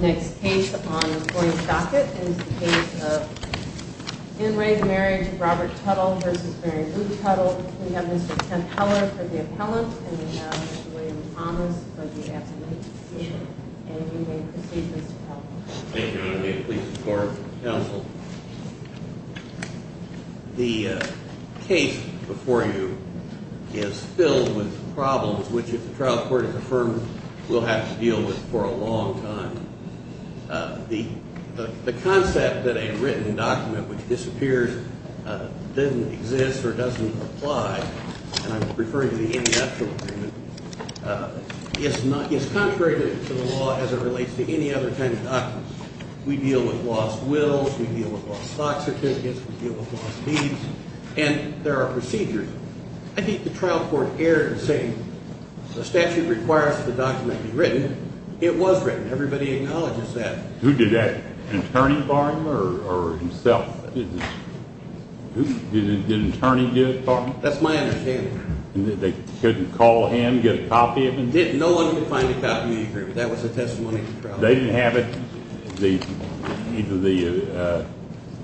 Next case on the point docket is the case of in re Marriage of Robert Tuttle v. Mary Lou Tuttle. We have Mr. Kent Heller for the appellant and we have Mr. William Thomas for the absentee. Thank you. Please support counsel. The case before you is filled with problems, which if the trial court is affirmed, we'll have to deal with for a long time. The concept that a written document which disappears doesn't exist or doesn't apply, and I'm referring to the inductual agreement, is contrary to the law as it relates to any other kind of document. We deal with lost wills, we deal with lost documents, we deal with lost deeds, and there are procedures. I think the trial court erred in saying the statute requires that the document be written. It was written. Everybody acknowledges that. Who did that? An attorney for him or himself? Did an attorney do it for him? That's my understanding. They couldn't call him, get a copy of it? No one could find a copy of the agreement. That was the testimony. They didn't have it, either the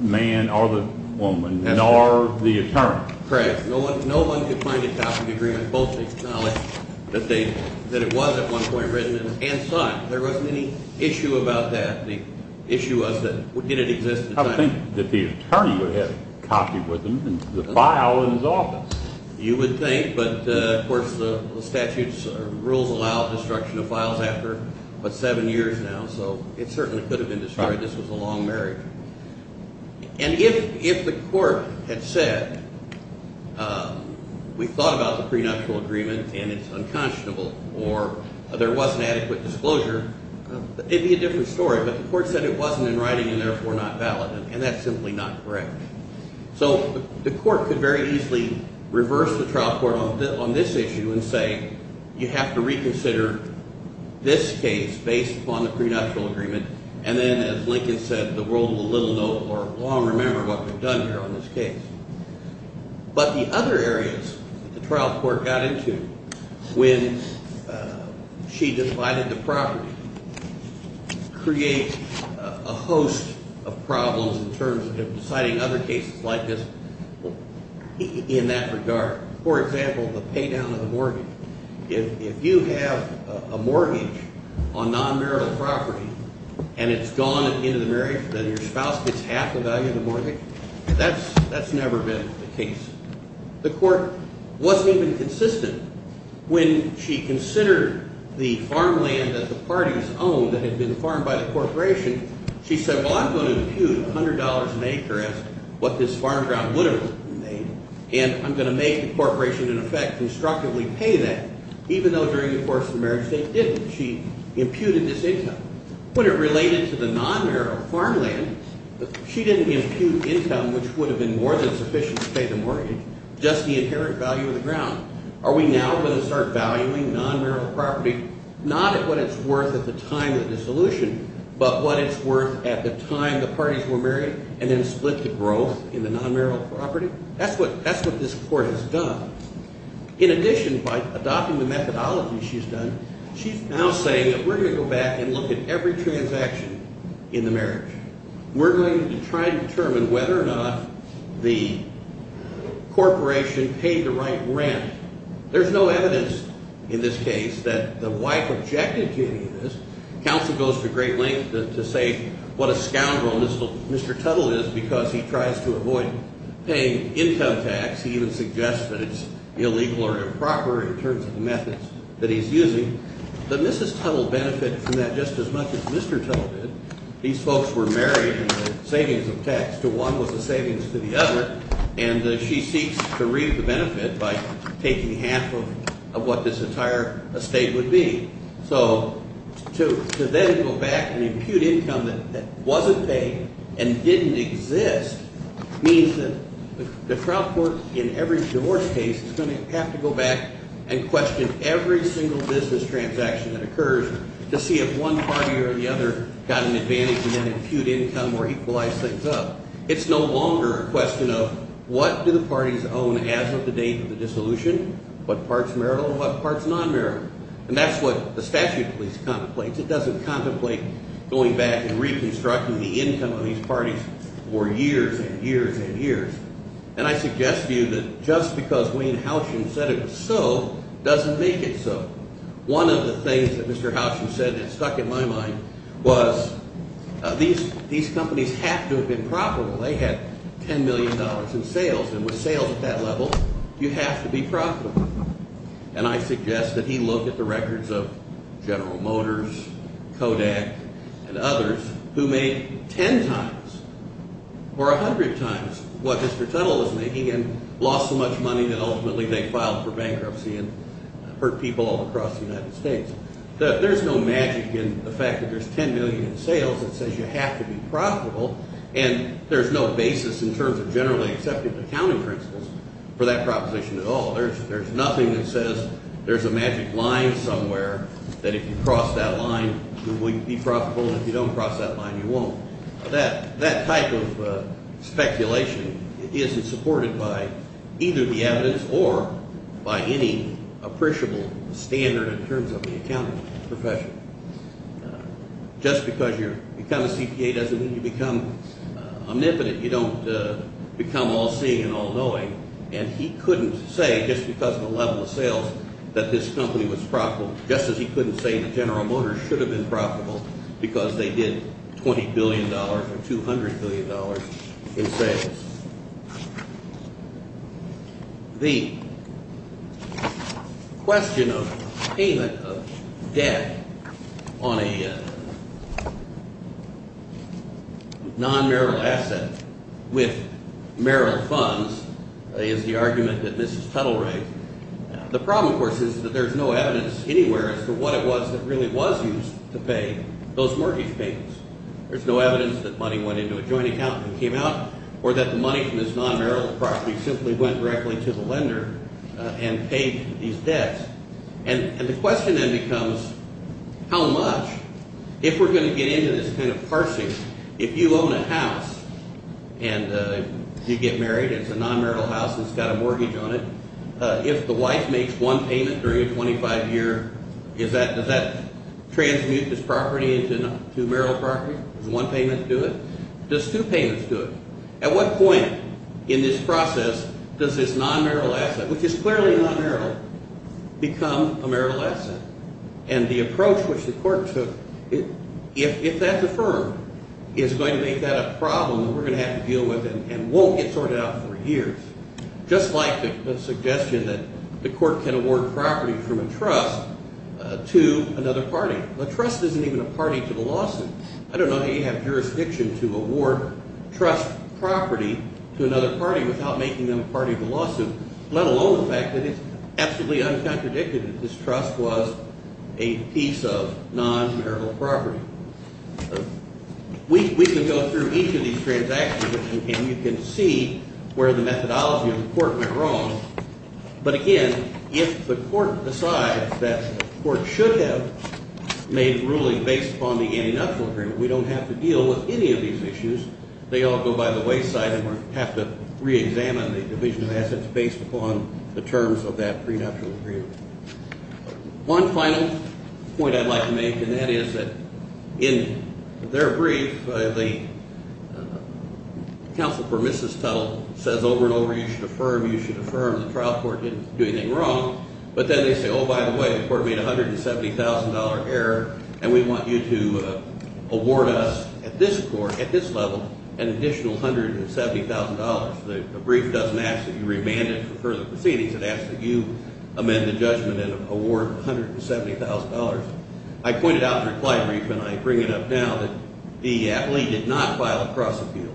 man or the woman, nor the attorney. Correct. No one could find a copy of the agreement, both acknowledge that it was at one point written and sought. There wasn't any issue about that. The issue was that did it exist at the time. I think that the attorney would have had a copy with him and the file in his office. You would think, but of course the statute's rules allow destruction of files after what, seven years now? So it certainly could have been destroyed. This was a long marriage. And if the court had said we thought about the prenuptial agreement and it's unconscionable or there wasn't adequate disclosure, it would be a different story. But the court said it wasn't in writing and therefore not valid, and that's simply not correct. So the court could very easily reverse the trial court on this issue and say you have to reconsider this case based upon the prenuptial agreement and then, as Lincoln said, the world will little know or long remember what we've done here on this case. But the other areas that the trial court got into when she decided the property create a host of problems in terms of deciding other cases like this in that regard. For example, the pay down of the mortgage. If you have a mortgage on non-marital property and it's gone at the end of the marriage, then your spouse gets half the value of the mortgage. That's never been the case. The court wasn't even consistent when she considered the farmland that the parties owned that had been farmed by the corporation. She said, well, I'm going to impute $100 an acre as what this farm ground would have made, and I'm going to make the corporation in effect constructively pay that, even though during the course of the marriage they didn't. She imputed this income. When it related to the non-marital farmland, she didn't impute income, which would have been more than sufficient to pay the mortgage, just the inherent value of the ground. Are we now going to start valuing non-marital property not at what it's worth at the time of the dissolution, but what it's worth at the time the parties were married and then split the growth in the non-marital property? That's what this court has done. In addition, by adopting the methodology she's done, she's now saying that we're going to go back and look at every transaction in the marriage. We're going to try and determine whether or not the corporation paid the right rent. There's no evidence in this case that the wife objected to any of this. Counsel goes to great lengths to say what a scoundrel Mr. Tuttle is because he tries to avoid paying income tax. He even suggests that it's illegal or improper in terms of the methods that he's using. But Mrs. Tuttle benefited from that just as much as Mr. Tuttle did. These folks were married and the savings of tax to one was the savings to the other, and she seeks to reap the benefit by taking half of what this entire estate would be. So to then go back and impute income that wasn't paid and didn't exist means that the trial court in every divorce case is going to have to go back and question every single business transaction that occurs to see if one party or the other got an advantage and then impute income or equalize things up. It's no longer a question of what do the parties own as of the date of the dissolution, what part's marital and what part's non-marital. And that's what the statute at least contemplates. It doesn't contemplate going back and reconstructing the income of these parties for years and years and years. And I suggest to you that just because Wayne Howsham said it was so doesn't make it so. One of the things that Mr. Howsham said that stuck in my mind was these companies have to have been profitable. They had $10 million in sales, and with sales at that level, you have to be profitable. And I suggest that he look at the records of General Motors, Kodak, and others who made 10 times or 100 times what Mr. Tuttle was making and lost so much money that ultimately they filed for bankruptcy and hurt people all across the United States. There's no magic in the fact that there's $10 million in sales that says you have to be profitable, and there's no basis in terms of generally accepted accounting principles for that proposition at all. There's nothing that says there's a magic line somewhere that if you cross that line you will be profitable, and if you don't cross that line you won't. That type of speculation isn't supported by either the evidence or by any appreciable standard in terms of the accounting profession. Just because you become a CPA doesn't mean you become omnipotent. You don't become all-seeing and all-knowing, and he couldn't say just because of the level of sales that this company was profitable, just as he couldn't say that General Motors should have been profitable because they did $20 billion or $200 billion in sales. The question of payment of debt on a non-merrill asset with merrill funds is the argument that Mrs. Tuttle raised. The problem, of course, is that there's no evidence anywhere as to what it was that really was used to pay those mortgage payments. There's no evidence that money went into a joint account and came out or that the money from this non-merrill property simply went directly to the lender and paid these debts. And the question then becomes how much, if we're going to get into this kind of parsing, if you own a house and you get married, it's a non-merrill house, it's got a mortgage on it, if the wife makes one payment during a 25-year, does that transmute this property into merrill property? Does one payment do it? Does two payments do it? At what point in this process does this non-merrill asset, which is clearly non-merrill, become a merrill asset? And the approach which the court took, if that's affirmed, is going to make that a problem that we're going to have to deal with and won't get sorted out for years. Just like the suggestion that the court can award property from a trust to another party. A trust isn't even a party to the lawsuit. I don't know how you have jurisdiction to award trust property to another party without making them a party to the lawsuit, let alone the fact that it's absolutely uncontradicted that this trust was a piece of non-merrill property. We can go through each of these transactions and you can see where the methodology of the court went wrong. But again, if the court decides that the court should have made the ruling based upon the antinatural agreement, we don't have to deal with any of these issues. They all go by the wayside and have to reexamine the division of assets based upon the terms of that prenatural agreement. One final point I'd like to make, and that is that in their brief, the counsel for Mrs. Tuttle says over and over, you should affirm, you should affirm, the trial court didn't do anything wrong. But then they say, oh, by the way, the court made a $170,000 error, and we want you to award us at this court, at this level, an additional $170,000. The brief doesn't ask that you remand it for further proceedings. It asks that you amend the judgment and award $170,000. I pointed out in the reply brief, and I bring it up now, that the athlete did not file a cross-appeal.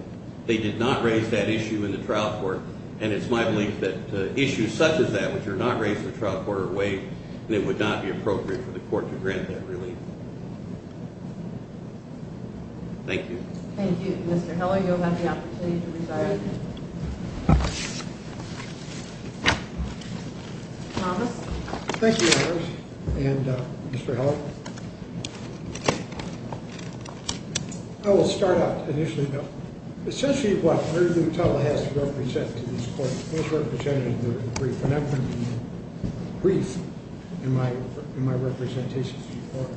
They did not raise that issue in the trial court, and it's my belief that issues such as that which are not raised in the trial court are waived, and it would not be appropriate for the court to grant that relief. Thank you. Thank you. Mr. Heller, you'll have the opportunity to resign. Thomas? Thank you, Congress, and Mr. Heller. I will start out, initially, about essentially what Mary Lou Tuttle has to represent to this court. This is representative of the brief, and I'm going to be brief in my representations to the court. The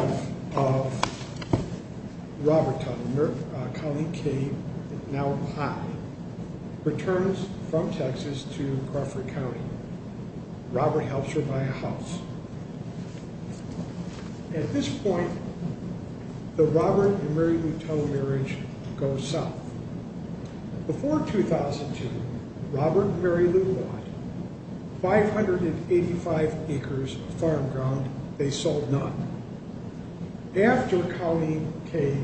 wife of Robert Tuttle, Colleen K., now high, returns from Texas to Crawford County. Robert helps her buy a house. At this point, the Robert and Mary Lou Tuttle marriage goes south. Before 2002, Robert and Mary Lou bought 585 acres of farm ground. They sold none. After Colleen K.,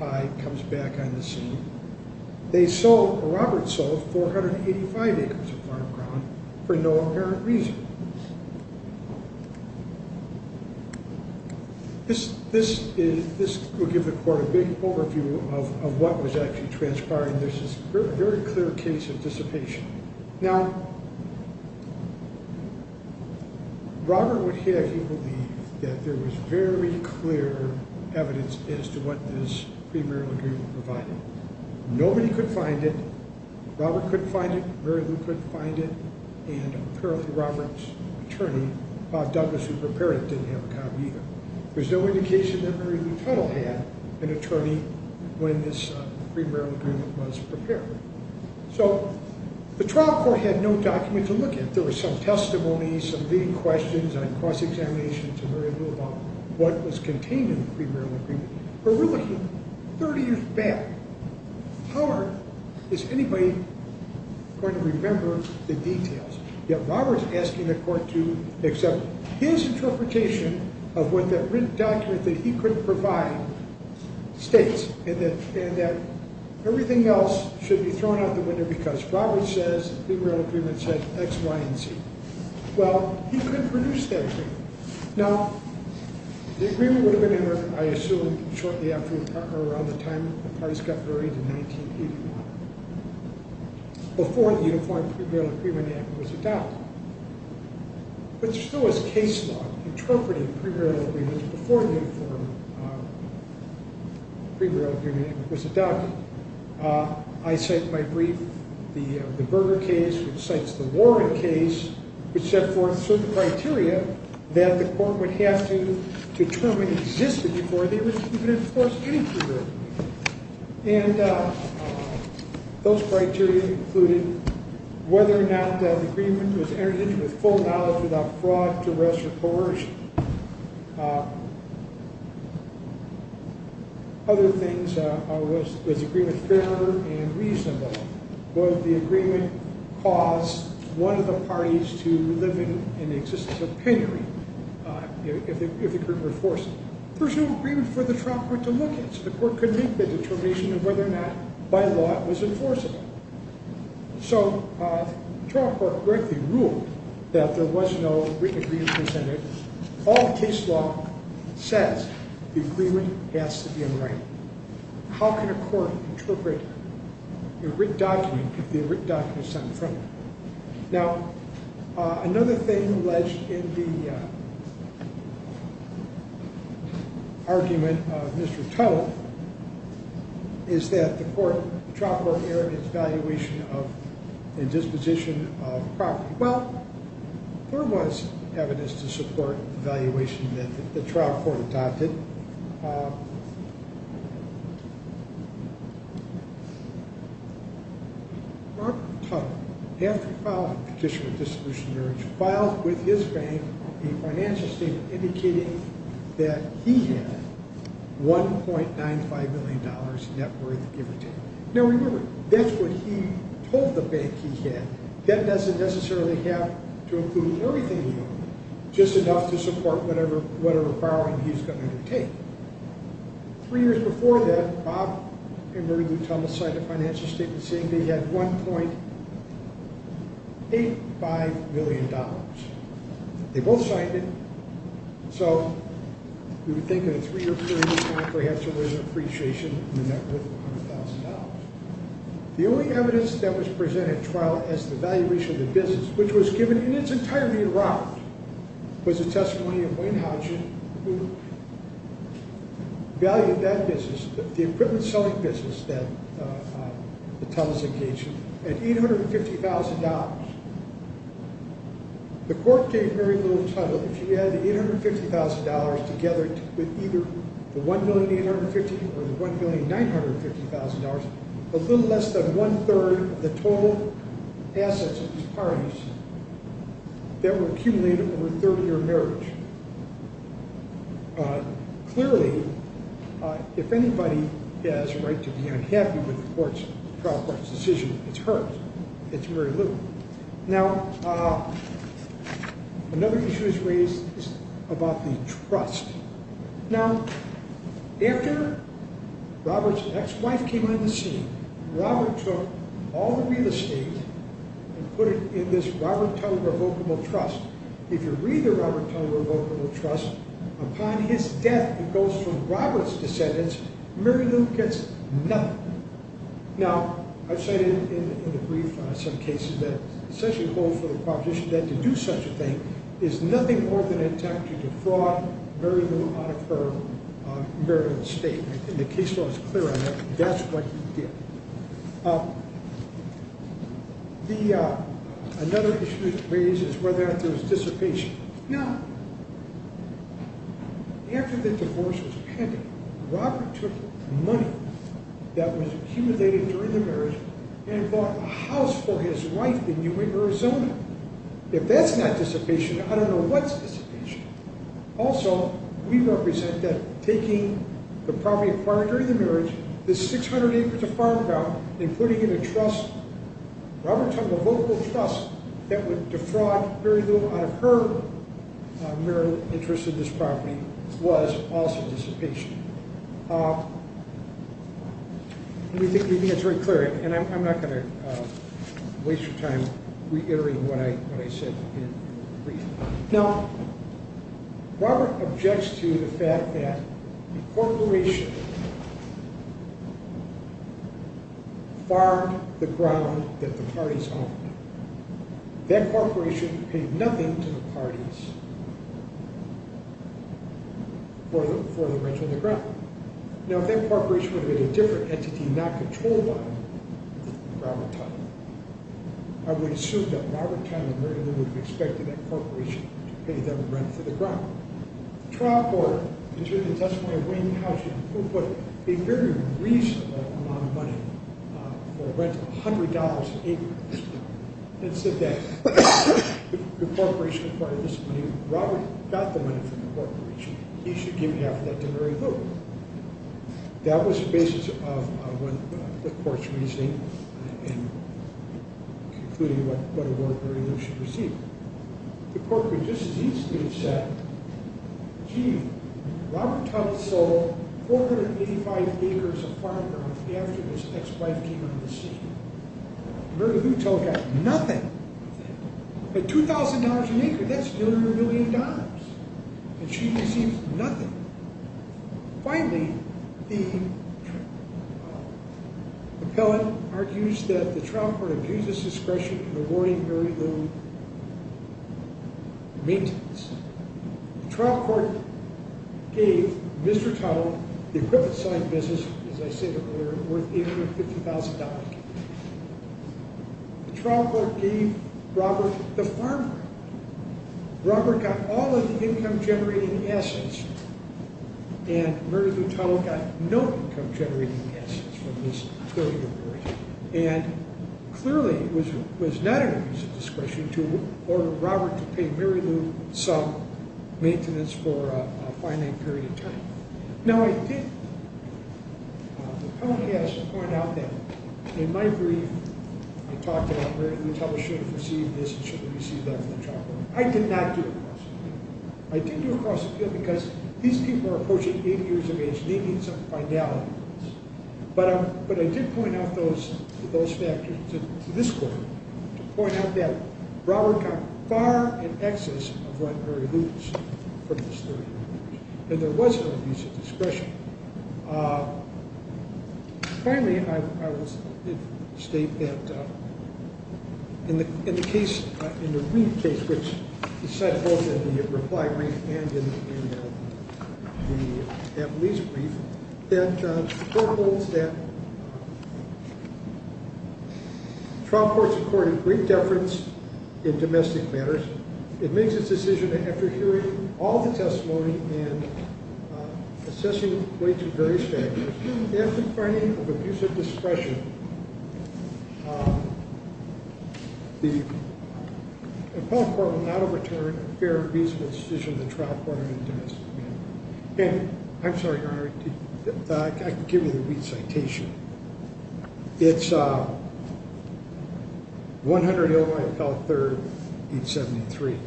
high, comes back on the scene, Robert sold 485 acres of farm ground for no apparent reason. This will give the court a big overview of what was actually transpired, and there's this very clear case of dissipation. Now, Robert would have you believe that there was very clear evidence as to what this free marital agreement provided. Nobody could find it. Robert couldn't find it. Mary Lou couldn't find it, and apparently Robert's attorney, Bob Douglas, who prepared it, didn't have a copy either. There's no indication that Mary Lou Tuttle had an attorney when this free marital agreement was prepared. So the trial court had no document to look at. There was some testimony, some leading questions on cross-examination to Mary Lou about what was contained in the free marital agreement. But we're looking 30 years back. How is anybody going to remember the details? Yet Robert's asking the court to accept his interpretation of what that written document that he couldn't provide states, and that everything else should be thrown out the window because Robert says free marital agreement said X, Y, and Z. Well, he couldn't produce that agreement. Now, the agreement would have been entered, I assume, shortly after or around the time the parties got married in 1981. Before the Uniform Free Marital Agreement Act was adopted. But there still was case law interpreting free marital agreements before the Uniform Free Marital Agreement Act was adopted. I cite in my brief the Berger case, which cites the Warren case, which set forth certain criteria that the court would have to determine existed before they would even enforce any free marital agreement. And those criteria included whether or not the agreement was entered into with full knowledge without fraud, duress, or coercion. Other things, was the agreement fair and reasonable? Would the agreement cause one of the parties to live in an existence of penury if it could be enforced? There was no agreement for the trial court to look at, so the court couldn't make the determination of whether or not, by law, it was enforceable. So, the trial court wrote the rule that there was no written agreement presented. All the case law says the agreement has to be in writing. How can a court interpret a written document if the written document is sent from it? Now, another thing alleged in the argument of Mr. Tuttle is that the trial court erred in its valuation and disposition of property. Well, there was evidence to support the valuation that the trial court adopted. Mark Tuttle, after filing a petition of disposition of marriage, filed with his bank a financial statement indicating that he had $1.95 million net worth given to him. Now, remember, that's what he told the bank he had. That doesn't necessarily have to include everything he owned, just enough to support whatever borrowing he's going to undertake. Three years before that, Bob and Mary Lou Tuttle signed a financial statement saying they had $1.85 million. They both signed it, so you would think in a three-year period of time, perhaps there was an appreciation in the net worth of $100,000. The only evidence that was presented at trial as to the valuation of the business, which was given in its entirety in writing, was a testimony of Wayne Hodgson, who valued that business, the equipment selling business that the Tuttles engaged in, at $850,000. The court gave Mary Lou Tuttle, if she had the $850,000 together with either the $1,850,000 or the $1,950,000, a little less than one-third of the total assets of these parties that were accumulated over a 30-year marriage. Clearly, if anybody has a right to be unhappy with the trial court's decision, it's her. It's Mary Lou. Now, another issue is raised about the trust. Now, after Robert's ex-wife came on the scene, Robert took all the real estate and put it in this Robert Tuttle Revocable Trust. If you read the Robert Tuttle Revocable Trust, upon his death, it goes from Robert's descendants, Mary Lou gets nothing. Now, I've cited in the brief some cases that essentially hold for the proposition that to do such a thing is nothing more than an attempt to defraud Mary Lou out of her marital estate. The case law is clear on that. That's what he did. Another issue raised is whether or not there was dissipation. Now, after the divorce was pending, Robert took money that was accumulated during the marriage and bought a house for his wife in New England, Arizona. If that's not dissipation, I don't know what's dissipation. Also, we represent that taking the property acquired during the marriage, this 600 acres of farmland, and putting it in a trust, Robert Tuttle Revocable Trust, that would defraud Mary Lou out of her marital interest in this property, was also dissipation. We think it's very clear, and I'm not going to waste your time reiterating what I said in the brief. Now, Robert objects to the fact that the corporation farmed the ground that the parties owned. That corporation paid nothing to the parties for the rental of the ground. Now, if that corporation were to be a different entity, not controlled by Robert Tuttle, I would assume that Robert Tuttle and Mary Lou would have expected that corporation to pay them rent for the ground. Now, the trial court has written a testimony of Wayne Howsham, who put a very reasonable amount of money for a rental of $100 an acre at this point, and said that if the corporation acquired this money, Robert got the money from the corporation. He should give half of that to Mary Lou. That was the basis of what the court's reasoning, including what award Mary Lou should receive. The court would just as easily have said, gee, Robert Tuttle sold 485 acres of farm ground after his ex-wife came on the scene. Mary Lou Tuttle got nothing. At $2,000 an acre, that's $100 million, and she receives nothing. Finally, the appellate argues that the trial court abuses discretion in awarding Mary Lou maintenance. The trial court gave Mr. Tuttle the equipment selling business, as I said earlier, worth $850,000. The trial court gave Robert the farm ground. Robert got all of the income-generating assets, and Mary Lou Tuttle got no income-generating assets from this 30-year period. Clearly, it was not an abuse of discretion to order Robert to pay Mary Lou some maintenance for a finite period of time. The appellate has to point out that in my brief, I talked about Mary Lou Tuttle should have received this and should have received that from the trial court. I did not do a cross-appeal. I did do a cross-appeal because these people are approaching 80 years of age, needing some finality. But I did point out those factors to this court to point out that Robert got far in excess of what Mary Lou was from this 30-year period. And there was no abuse of discretion. Finally, I will state that in the case, in the Reid case, which is cited both in the reply brief and in the appellate's brief, that the court holds that trial courts accorded great deference in domestic matters. It makes its decision that after hearing all the testimony and assessing the weight of various factors, if, in finding of abuse of discretion, the appellate court will not overturn a fair and reasonable decision of the trial court on domestic matters. And I'm sorry, Your Honor, I can give you the Reid citation. It's 100 Illinois Appellate 3rd, 873.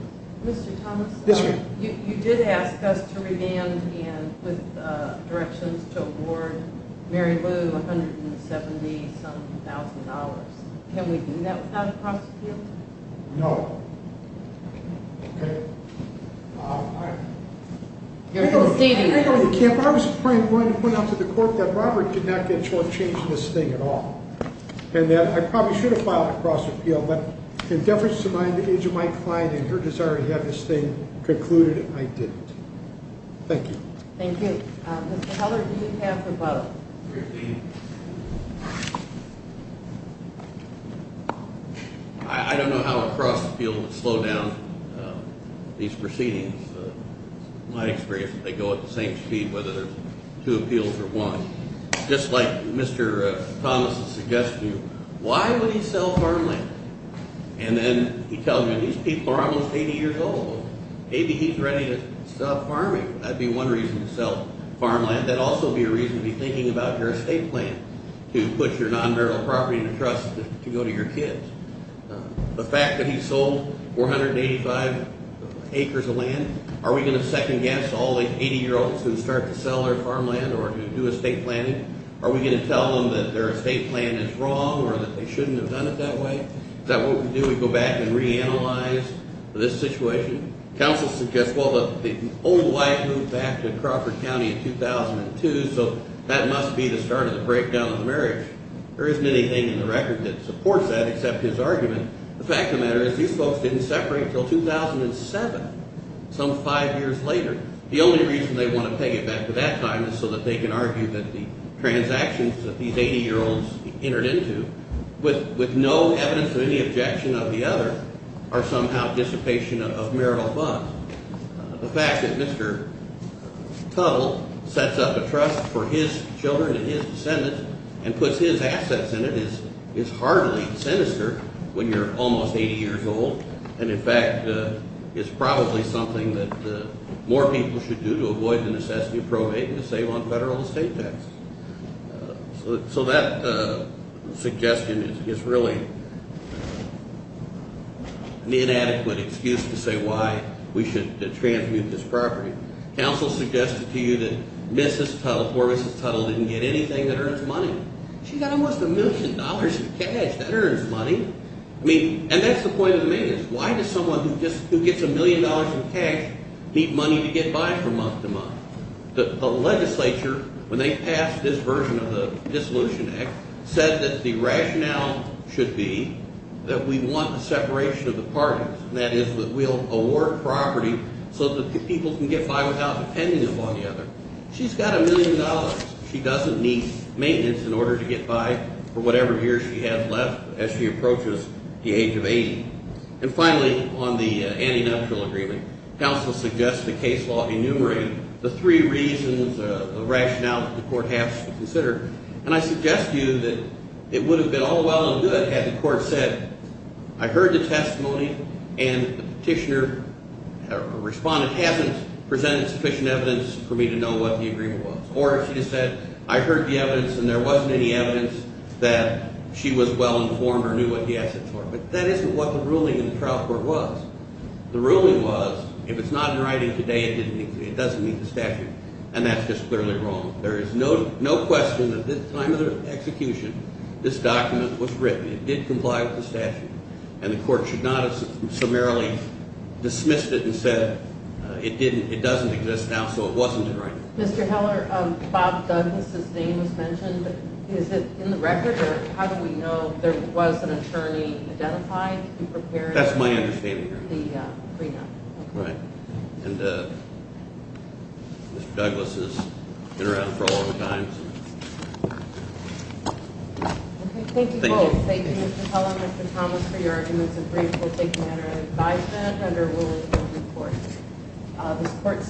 Mr. Thomas? Yes, ma'am. You did ask us to remand and with directions to award Mary Lou $170,000. Can we do that without a cross-appeal? No. Okay. All right. I was trying to point out to the court that Robert did not get shortchanged in this thing at all, and that I probably should have filed a cross-appeal. But in deference to my client and her desire to have this thing concluded, I didn't. Thank you. Thank you. Mr. Heller, do you have a vote? 315. I don't know how a cross-appeal would slow down these proceedings. It's my experience that they go at the same speed, whether there are two appeals or one. Just like Mr. Thomas has suggested to you, why would he sell farmland? And then he tells me these people are almost 80 years old. Maybe he's ready to stop farming. That would be one reason to sell farmland. That would also be a reason to be thinking about your estate plan to put your non-burial property in a trust to go to your kids. The fact that he sold 485 acres of land, are we going to second-guess all the 80-year-olds who start to sell their farmland or who do estate planning? Are we going to tell them that their estate plan is wrong or that they shouldn't have done it that way? Is that what we do? We go back and reanalyze this situation? Counsel suggests, well, the old wife moved back to Crawford County in 2002, so that must be the start of the breakdown of the marriage. There isn't anything in the record that supports that except his argument. The fact of the matter is these folks didn't separate until 2007, some five years later. The only reason they want to peg it back to that time is so that they can argue that the transactions that these 80-year-olds entered into, with no evidence of any objection of the other, are somehow dissipation of marital bonds. The fact that Mr. Tuttle sets up a trust for his children and his descendants and puts his assets in it is hardly sinister when you're almost 80 years old and, in fact, is probably something that more people should do to avoid the necessity of probating to save on federal estate taxes. So that suggestion is really an inadequate excuse to say why we should transmute this property. Counsel suggested to you that Mrs. Tuttle, poor Mrs. Tuttle, didn't get anything that earns money. She's got almost a million dollars in cash that earns money. I mean, and that's the point of the marriage. Why does someone who gets a million dollars in cash need money to get by from month to month? The legislature, when they passed this version of the Dissolution Act, said that the rationale should be that we want the separation of the parties, and that is that we'll award property so that people can get by without depending upon the other. She's got a million dollars. She doesn't need maintenance in order to get by for whatever years she has left as she approaches the age of 80. And finally, on the antinatural agreement, counsel suggests the case law enumerating the three reasons, the rationale that the court has to consider, and I suggest to you that it would have been all well and good had the court said I heard the testimony and the petitioner or respondent hasn't presented sufficient evidence for me to know what the agreement was, or if she just said I heard the evidence and there wasn't any evidence that she was well informed or knew what the assets were. But that isn't what the ruling in the trial court was. The ruling was if it's not in writing today, it doesn't meet the statute, and that's just clearly wrong. There is no question that at the time of the execution, this document was written. It did comply with the statute, and the court should not have summarily dismissed it and said it doesn't exist now, so it wasn't in writing. Mr. Heller, Bob Douglas' name was mentioned. Is it in the record, or how do we know there was an attorney identified to prepare the prenup? That's my understanding. Right. And Mr. Douglas has been around for a long time. Okay. Thank you both. Thank you, Mr. Heller and Mr. Thomas, for your arguments. It's been briefed. We'll take a matter of five minutes, and then we'll report.